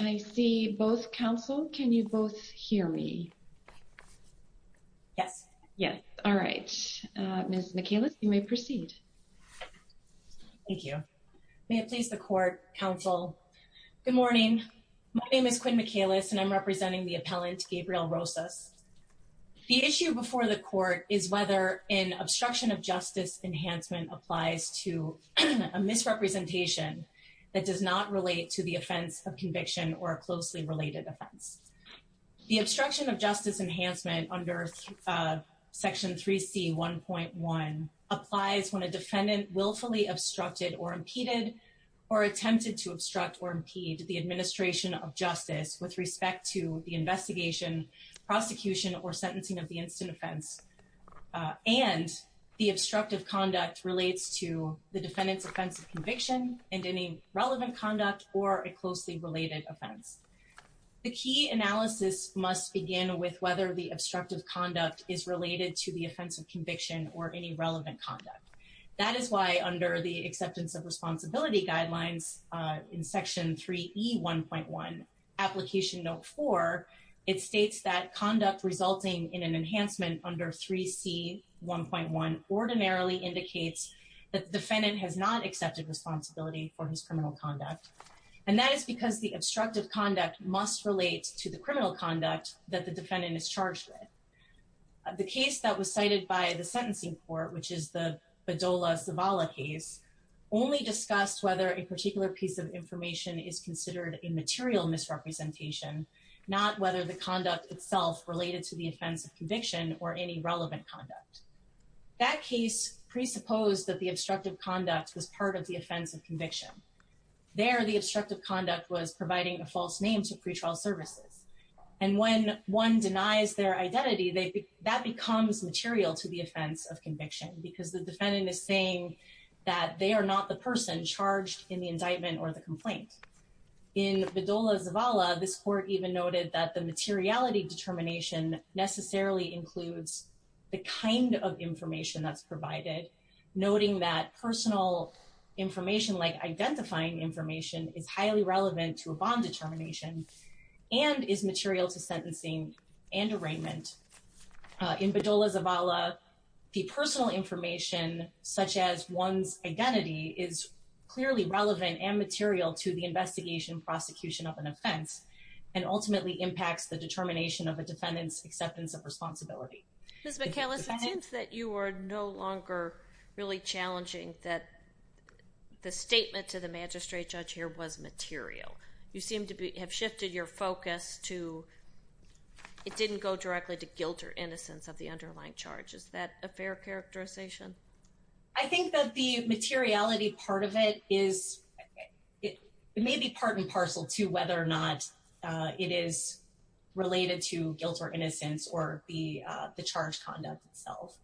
I see both counsel. Can you both hear me? Yes. Yes. All right. Ms. Michaelis, you may proceed. Thank you. May it please the court, counsel. Good morning. My name is Quinn Michaelis. And I'm representing the appellant, Gabriel Rosas. The issue before the court is whether an obstruction of justice enhancement applies to a misrepresentation that does not relate to the offense of conviction or a closely related offense. The obstruction of justice enhancement under section 3c 1.1 applies when a defendant willfully obstructed or impeded or attempted to obstruct or impede the administration of justice with respect to the investigation, prosecution or sentencing of the instant offense. And the obstructive conduct relates to the defendant's offense of conviction and any relevant conduct or a closely related offense. The key analysis must begin with whether the obstructive conduct is related to the offense of conviction, prosecution or sentencing of the defendant. Under section 3c 1.1, it states that conduct resulting in an enhancement under 3c 1.1 ordinarily indicates that the defendant has not accepted responsibility for his criminal conduct. And that is because the obstructive conduct must relate to the criminal conduct that the defendant is charged with. The case that was cited by the sentencing court, which is the Bedolla-Zavala case, only discussed whether a particular piece of information is considered a material misrepresentation, not whether the conduct itself related to the offense of conviction or any relevant conduct. That case presupposed that the obstructive conduct was part of the offense of conviction. There, the obstructive conduct was providing a false name to pretrial services. And when one denies their identity, that becomes material to the offense of conviction, because the defendant is saying that they are not the person charged in the indictment or the complaint. In Bedolla-Zavala, this court even noted that the materiality determination necessarily includes the kind of information that's provided, noting that personal information like identifying information is highly relevant to a bond determination and is material to sentencing and arraignment. In Bedolla-Zavala, the personal information such as one's identity is clearly relevant and material to the investigation prosecution of an offense and ultimately impacts the determination of a defendant's acceptance of responsibility. Ms. McAllis, it seems that you are no longer really challenging that the statement to the magistrate judge here was material. You seem to have shifted your focus to, it didn't go directly to guilt or innocence of the underlying charge. Is that a fair characterization? I think that the materiality part of it is, it may be part and parcel to whether or not it is related to guilt or innocence or the charge conduct itself.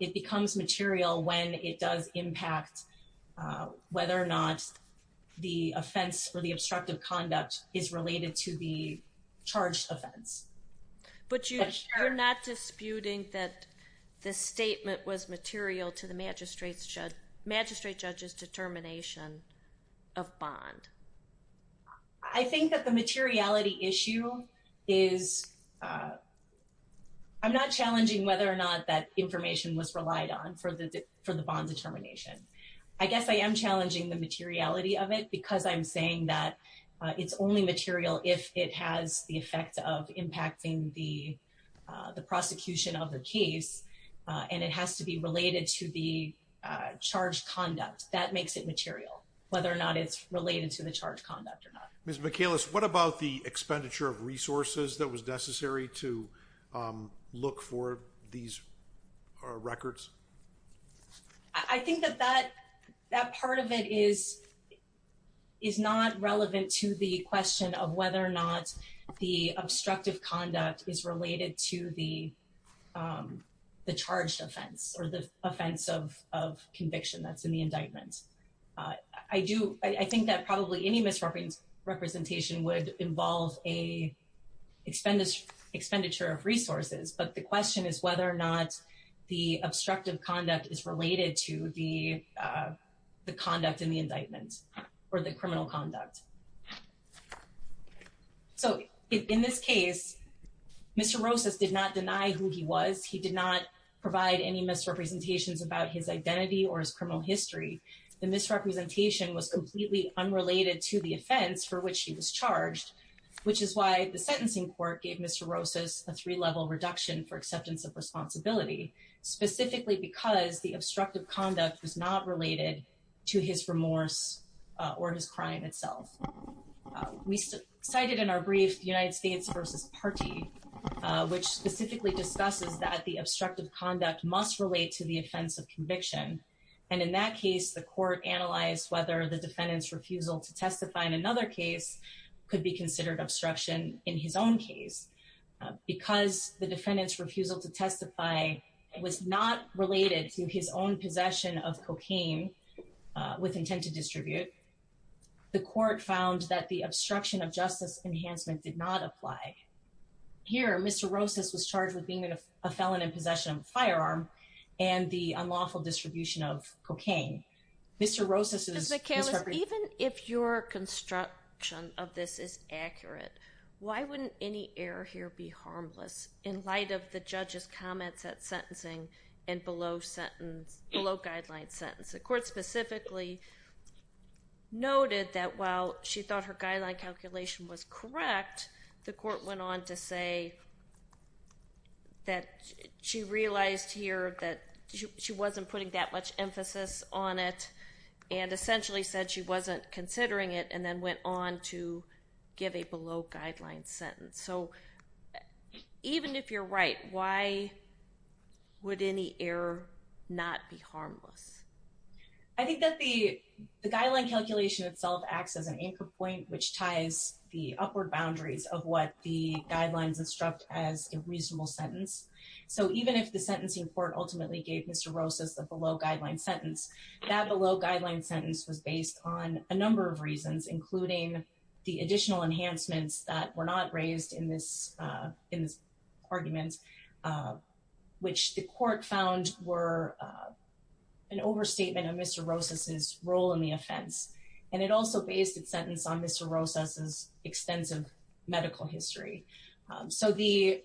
It becomes material when it does impact whether or not the offense or the obstructive conduct is related to the charged offense. But you're not disputing that this statement was material to the magistrate judge's determination of bond. I think that the materiality issue is, I'm not challenging whether or not that information was relied on for the bond determination. I guess I am challenging the materiality of it because I'm saying that it's only material if it has the effect of impacting the whether or not it's related to the charge conduct or not. Ms. McAllis, what about the expenditure of resources that was necessary to look for these records? I think that that that part of it is not relevant to the question of whether or not the obstructive conduct is related to the charged offense or the offense of conviction that's in the indictment. I think that probably any misrepresentation would involve an expenditure of resources, but the question is whether or not the obstructive conduct is related to the conduct in the indictment or the criminal conduct. So, in this case, Mr. Rosas did not deny who he was. He did not provide any misrepresentations about his identity or his criminal history. The misrepresentation was completely unrelated to the offense for which he was charged, which is why the sentencing court gave Mr. Rosas a three-level reduction for acceptance of responsibility, specifically because the obstructive conduct was not related to his remorse or his crime itself. We cited in our brief United States versus Partee, which specifically discusses that the obstructive conduct must relate to the offense of conviction, and in that case, the court analyzed whether the defendant's refusal to testify in another case could be considered obstruction in his own case. Because the court found that the obstruction of justice enhancement did not apply. Here, Mr. Rosas was charged with being a felon in possession of a firearm and the unlawful distribution of cocaine. Mr. Rosas is- Ms. McHale, even if your construction of this is accurate, why wouldn't any error here be harmless? The court specifically noted that while she thought her guideline calculation was correct, the court went on to say that she realized here that she wasn't putting that much emphasis on it and essentially said she wasn't considering it, and then went on to give a below-guideline sentence. So even if you're right, why would any error not be harmless? I think that the guideline calculation itself acts as an anchor point which ties the upward boundaries of what the guidelines instruct as a reasonable sentence. So even if the sentencing court ultimately gave Mr. Rosas the below-guideline sentence, that below-guideline sentence was based on a number of reasons, including the additional enhancements that were not raised in this argument, which the court found were an overstatement of Mr. Rosas' role in the offense, and it also based its sentence on Mr. Rosas' extensive medical history. So the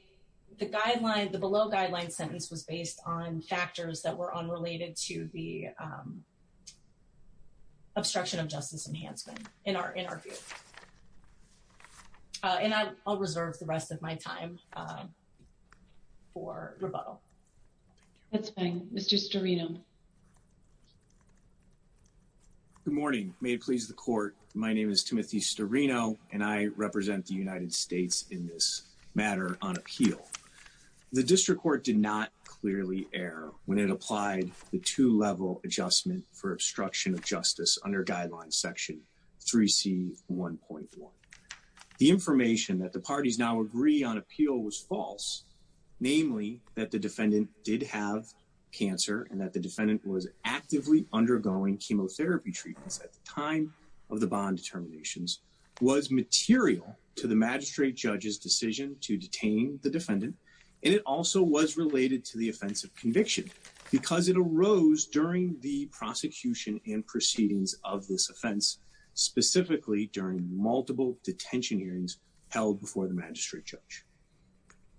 below-guideline sentence was based on factors that were unrelated to the Justice Enhancement in our view. And I'll reserve the rest of my time for rebuttal. That's fine. Mr. Storino. Good morning. May it please the court, my name is Timothy Storino, and I represent the United States in this matter on appeal. The district court did not clearly err when it applied the two-level adjustment for obstruction of justice under Guidelines Section 3C1.1. The information that the parties now agree on appeal was false, namely that the defendant did have cancer and that the defendant was actively undergoing chemotherapy treatments at the time of the bond determinations was material to the magistrate judge's decision to detain the defendant, and it also was related to the offense of conviction because it arose during the prosecution and proceedings of this offense, specifically during multiple detention hearings held before the magistrate judge.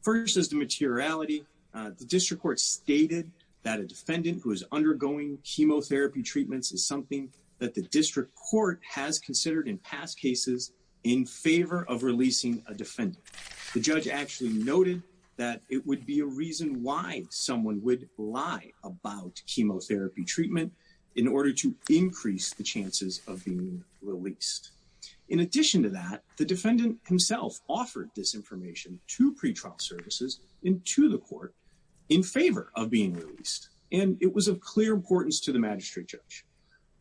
First is the materiality. The district court stated that a defendant who is undergoing chemotherapy treatments is something that the district court has considered in past cases in favor of releasing a defendant. The judge actually noted that it would be a reason why someone would lie about chemotherapy treatment in order to increase the chances of being released. In addition to that, the defendant himself offered this information to pretrial services and to the court in favor of being released, and it was of clear importance to the magistrate judge.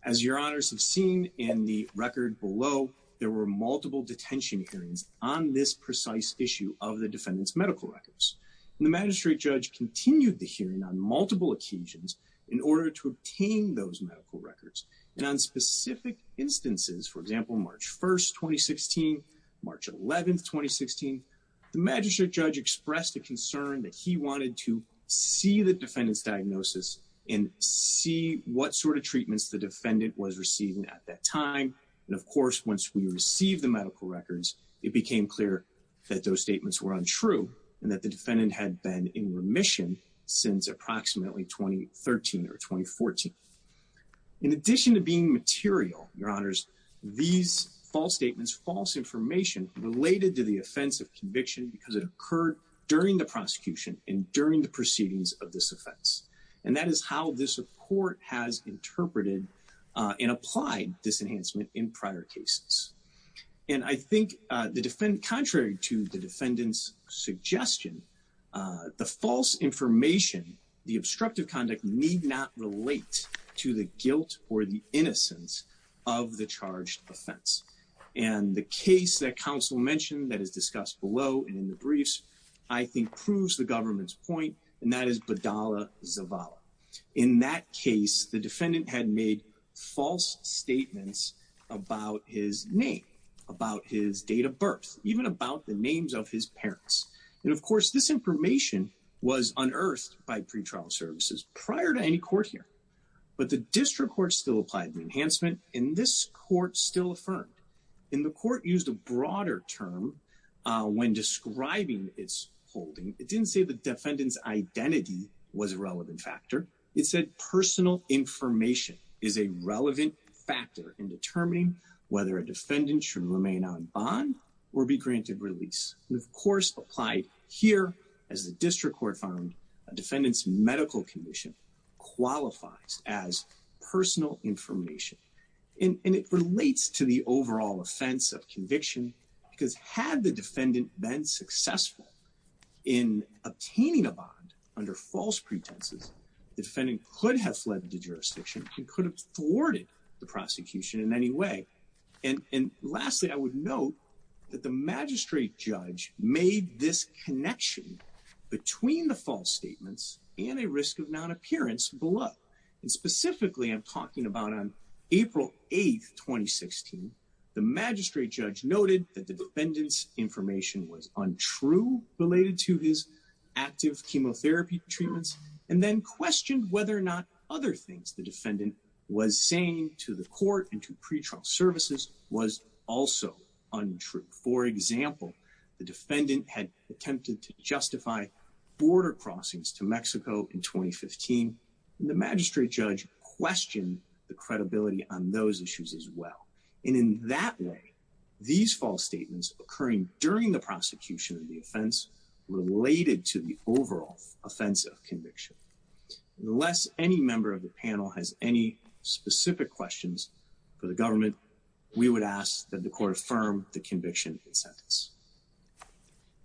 As your honors have seen in the record below, there were multiple detention hearings on this precise issue of the defendant's medical records, and the magistrate judge continued the hearing on multiple occasions in order to obtain those medical records, and on specific instances, for example, March 1st, 2016, March 11th, 2016, the magistrate judge expressed a concern that he the defendant was receiving at that time, and of course, once we received the medical records, it became clear that those statements were untrue and that the defendant had been in remission since approximately 2013 or 2014. In addition to being material, your honors, these false statements, false information related to the offense of conviction because it occurred during the and applied disenhancement in prior cases, and I think the defendant, contrary to the defendant's suggestion, the false information, the obstructive conduct need not relate to the guilt or the innocence of the charged offense, and the case that counsel mentioned that is discussed below and in the briefs, I think proves the government's point, and that is Badala Zavala. In that case, the defendant had made false statements about his name, about his date of birth, even about the names of his parents, and of course, this information was unearthed by pretrial services prior to any court here, but the district court still applied the enhancement, and this court still affirmed, and the court used a broader term when describing its holding. It didn't say the defendant's information is a relevant factor in determining whether a defendant should remain on bond or be granted release. Of course, applied here as the district court found a defendant's medical condition qualifies as personal information, and it relates to the overall offense of conviction because had the defendant been successful in obtaining a bond under false pretenses, the defendant could have fled the jurisdiction and could have thwarted the prosecution in any way, and lastly, I would note that the magistrate judge made this connection between the false statements and a risk of non-appearance below, and specifically, I'm talking about on April 8, 2016. The magistrate judge noted that the defendant's information was untrue related to his chemotherapy treatments, and then questioned whether or not other things the defendant was saying to the court and to pretrial services was also untrue. For example, the defendant had attempted to justify border crossings to Mexico in 2015, and the magistrate judge questioned the credibility on those issues as well, and in that way, these false statements occurring during the overall offense of conviction. Unless any member of the panel has any specific questions for the government, we would ask that the court affirm the conviction and sentence.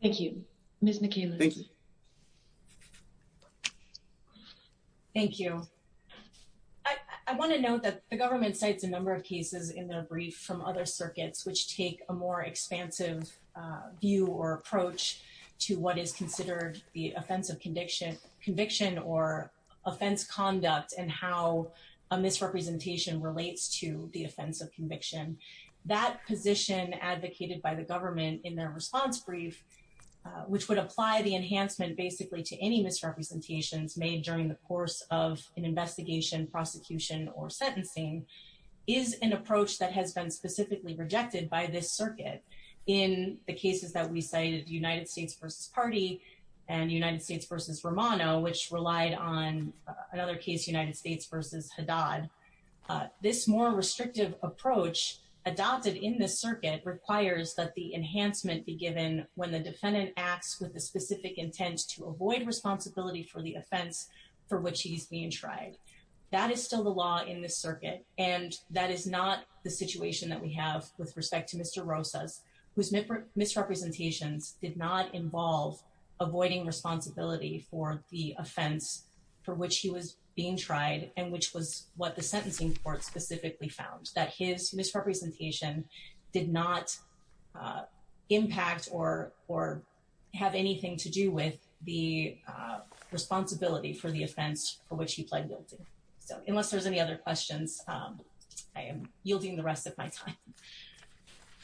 Thank you. Ms. McKayla. Thank you. Thank you. I want to note that the government cites a number of cases in their brief from other circuits which take a more expansive view or approach to what is considered the offense of conviction or offense conduct and how a misrepresentation relates to the offense of conviction. That position advocated by the government in their response brief, which would apply the enhancement basically to any misrepresentations made during the course of investigation, prosecution, or sentencing, is an approach that has been specifically rejected by this circuit. In the cases that we cited, United States v. Party and United States v. Romano, which relied on another case, United States v. Haddad, this more restrictive approach adopted in this circuit requires that the enhancement be given when the defendant acts with a specific intent to avoid responsibility for the offense for which he's being tried. That is still the law in this circuit, and that is not the situation that we have with respect to Mr. Rosas, whose misrepresentations did not involve avoiding responsibility for the offense for which he was being tried and which was what the sentencing court specifically found, that his misrepresentations did not have anything to do with the responsibility for the offense for which he pled guilty. So unless there's any other questions, I am yielding the rest of my time.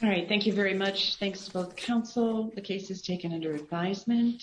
All right, thank you very much. Thanks to both counsel. The case is taken under advisement.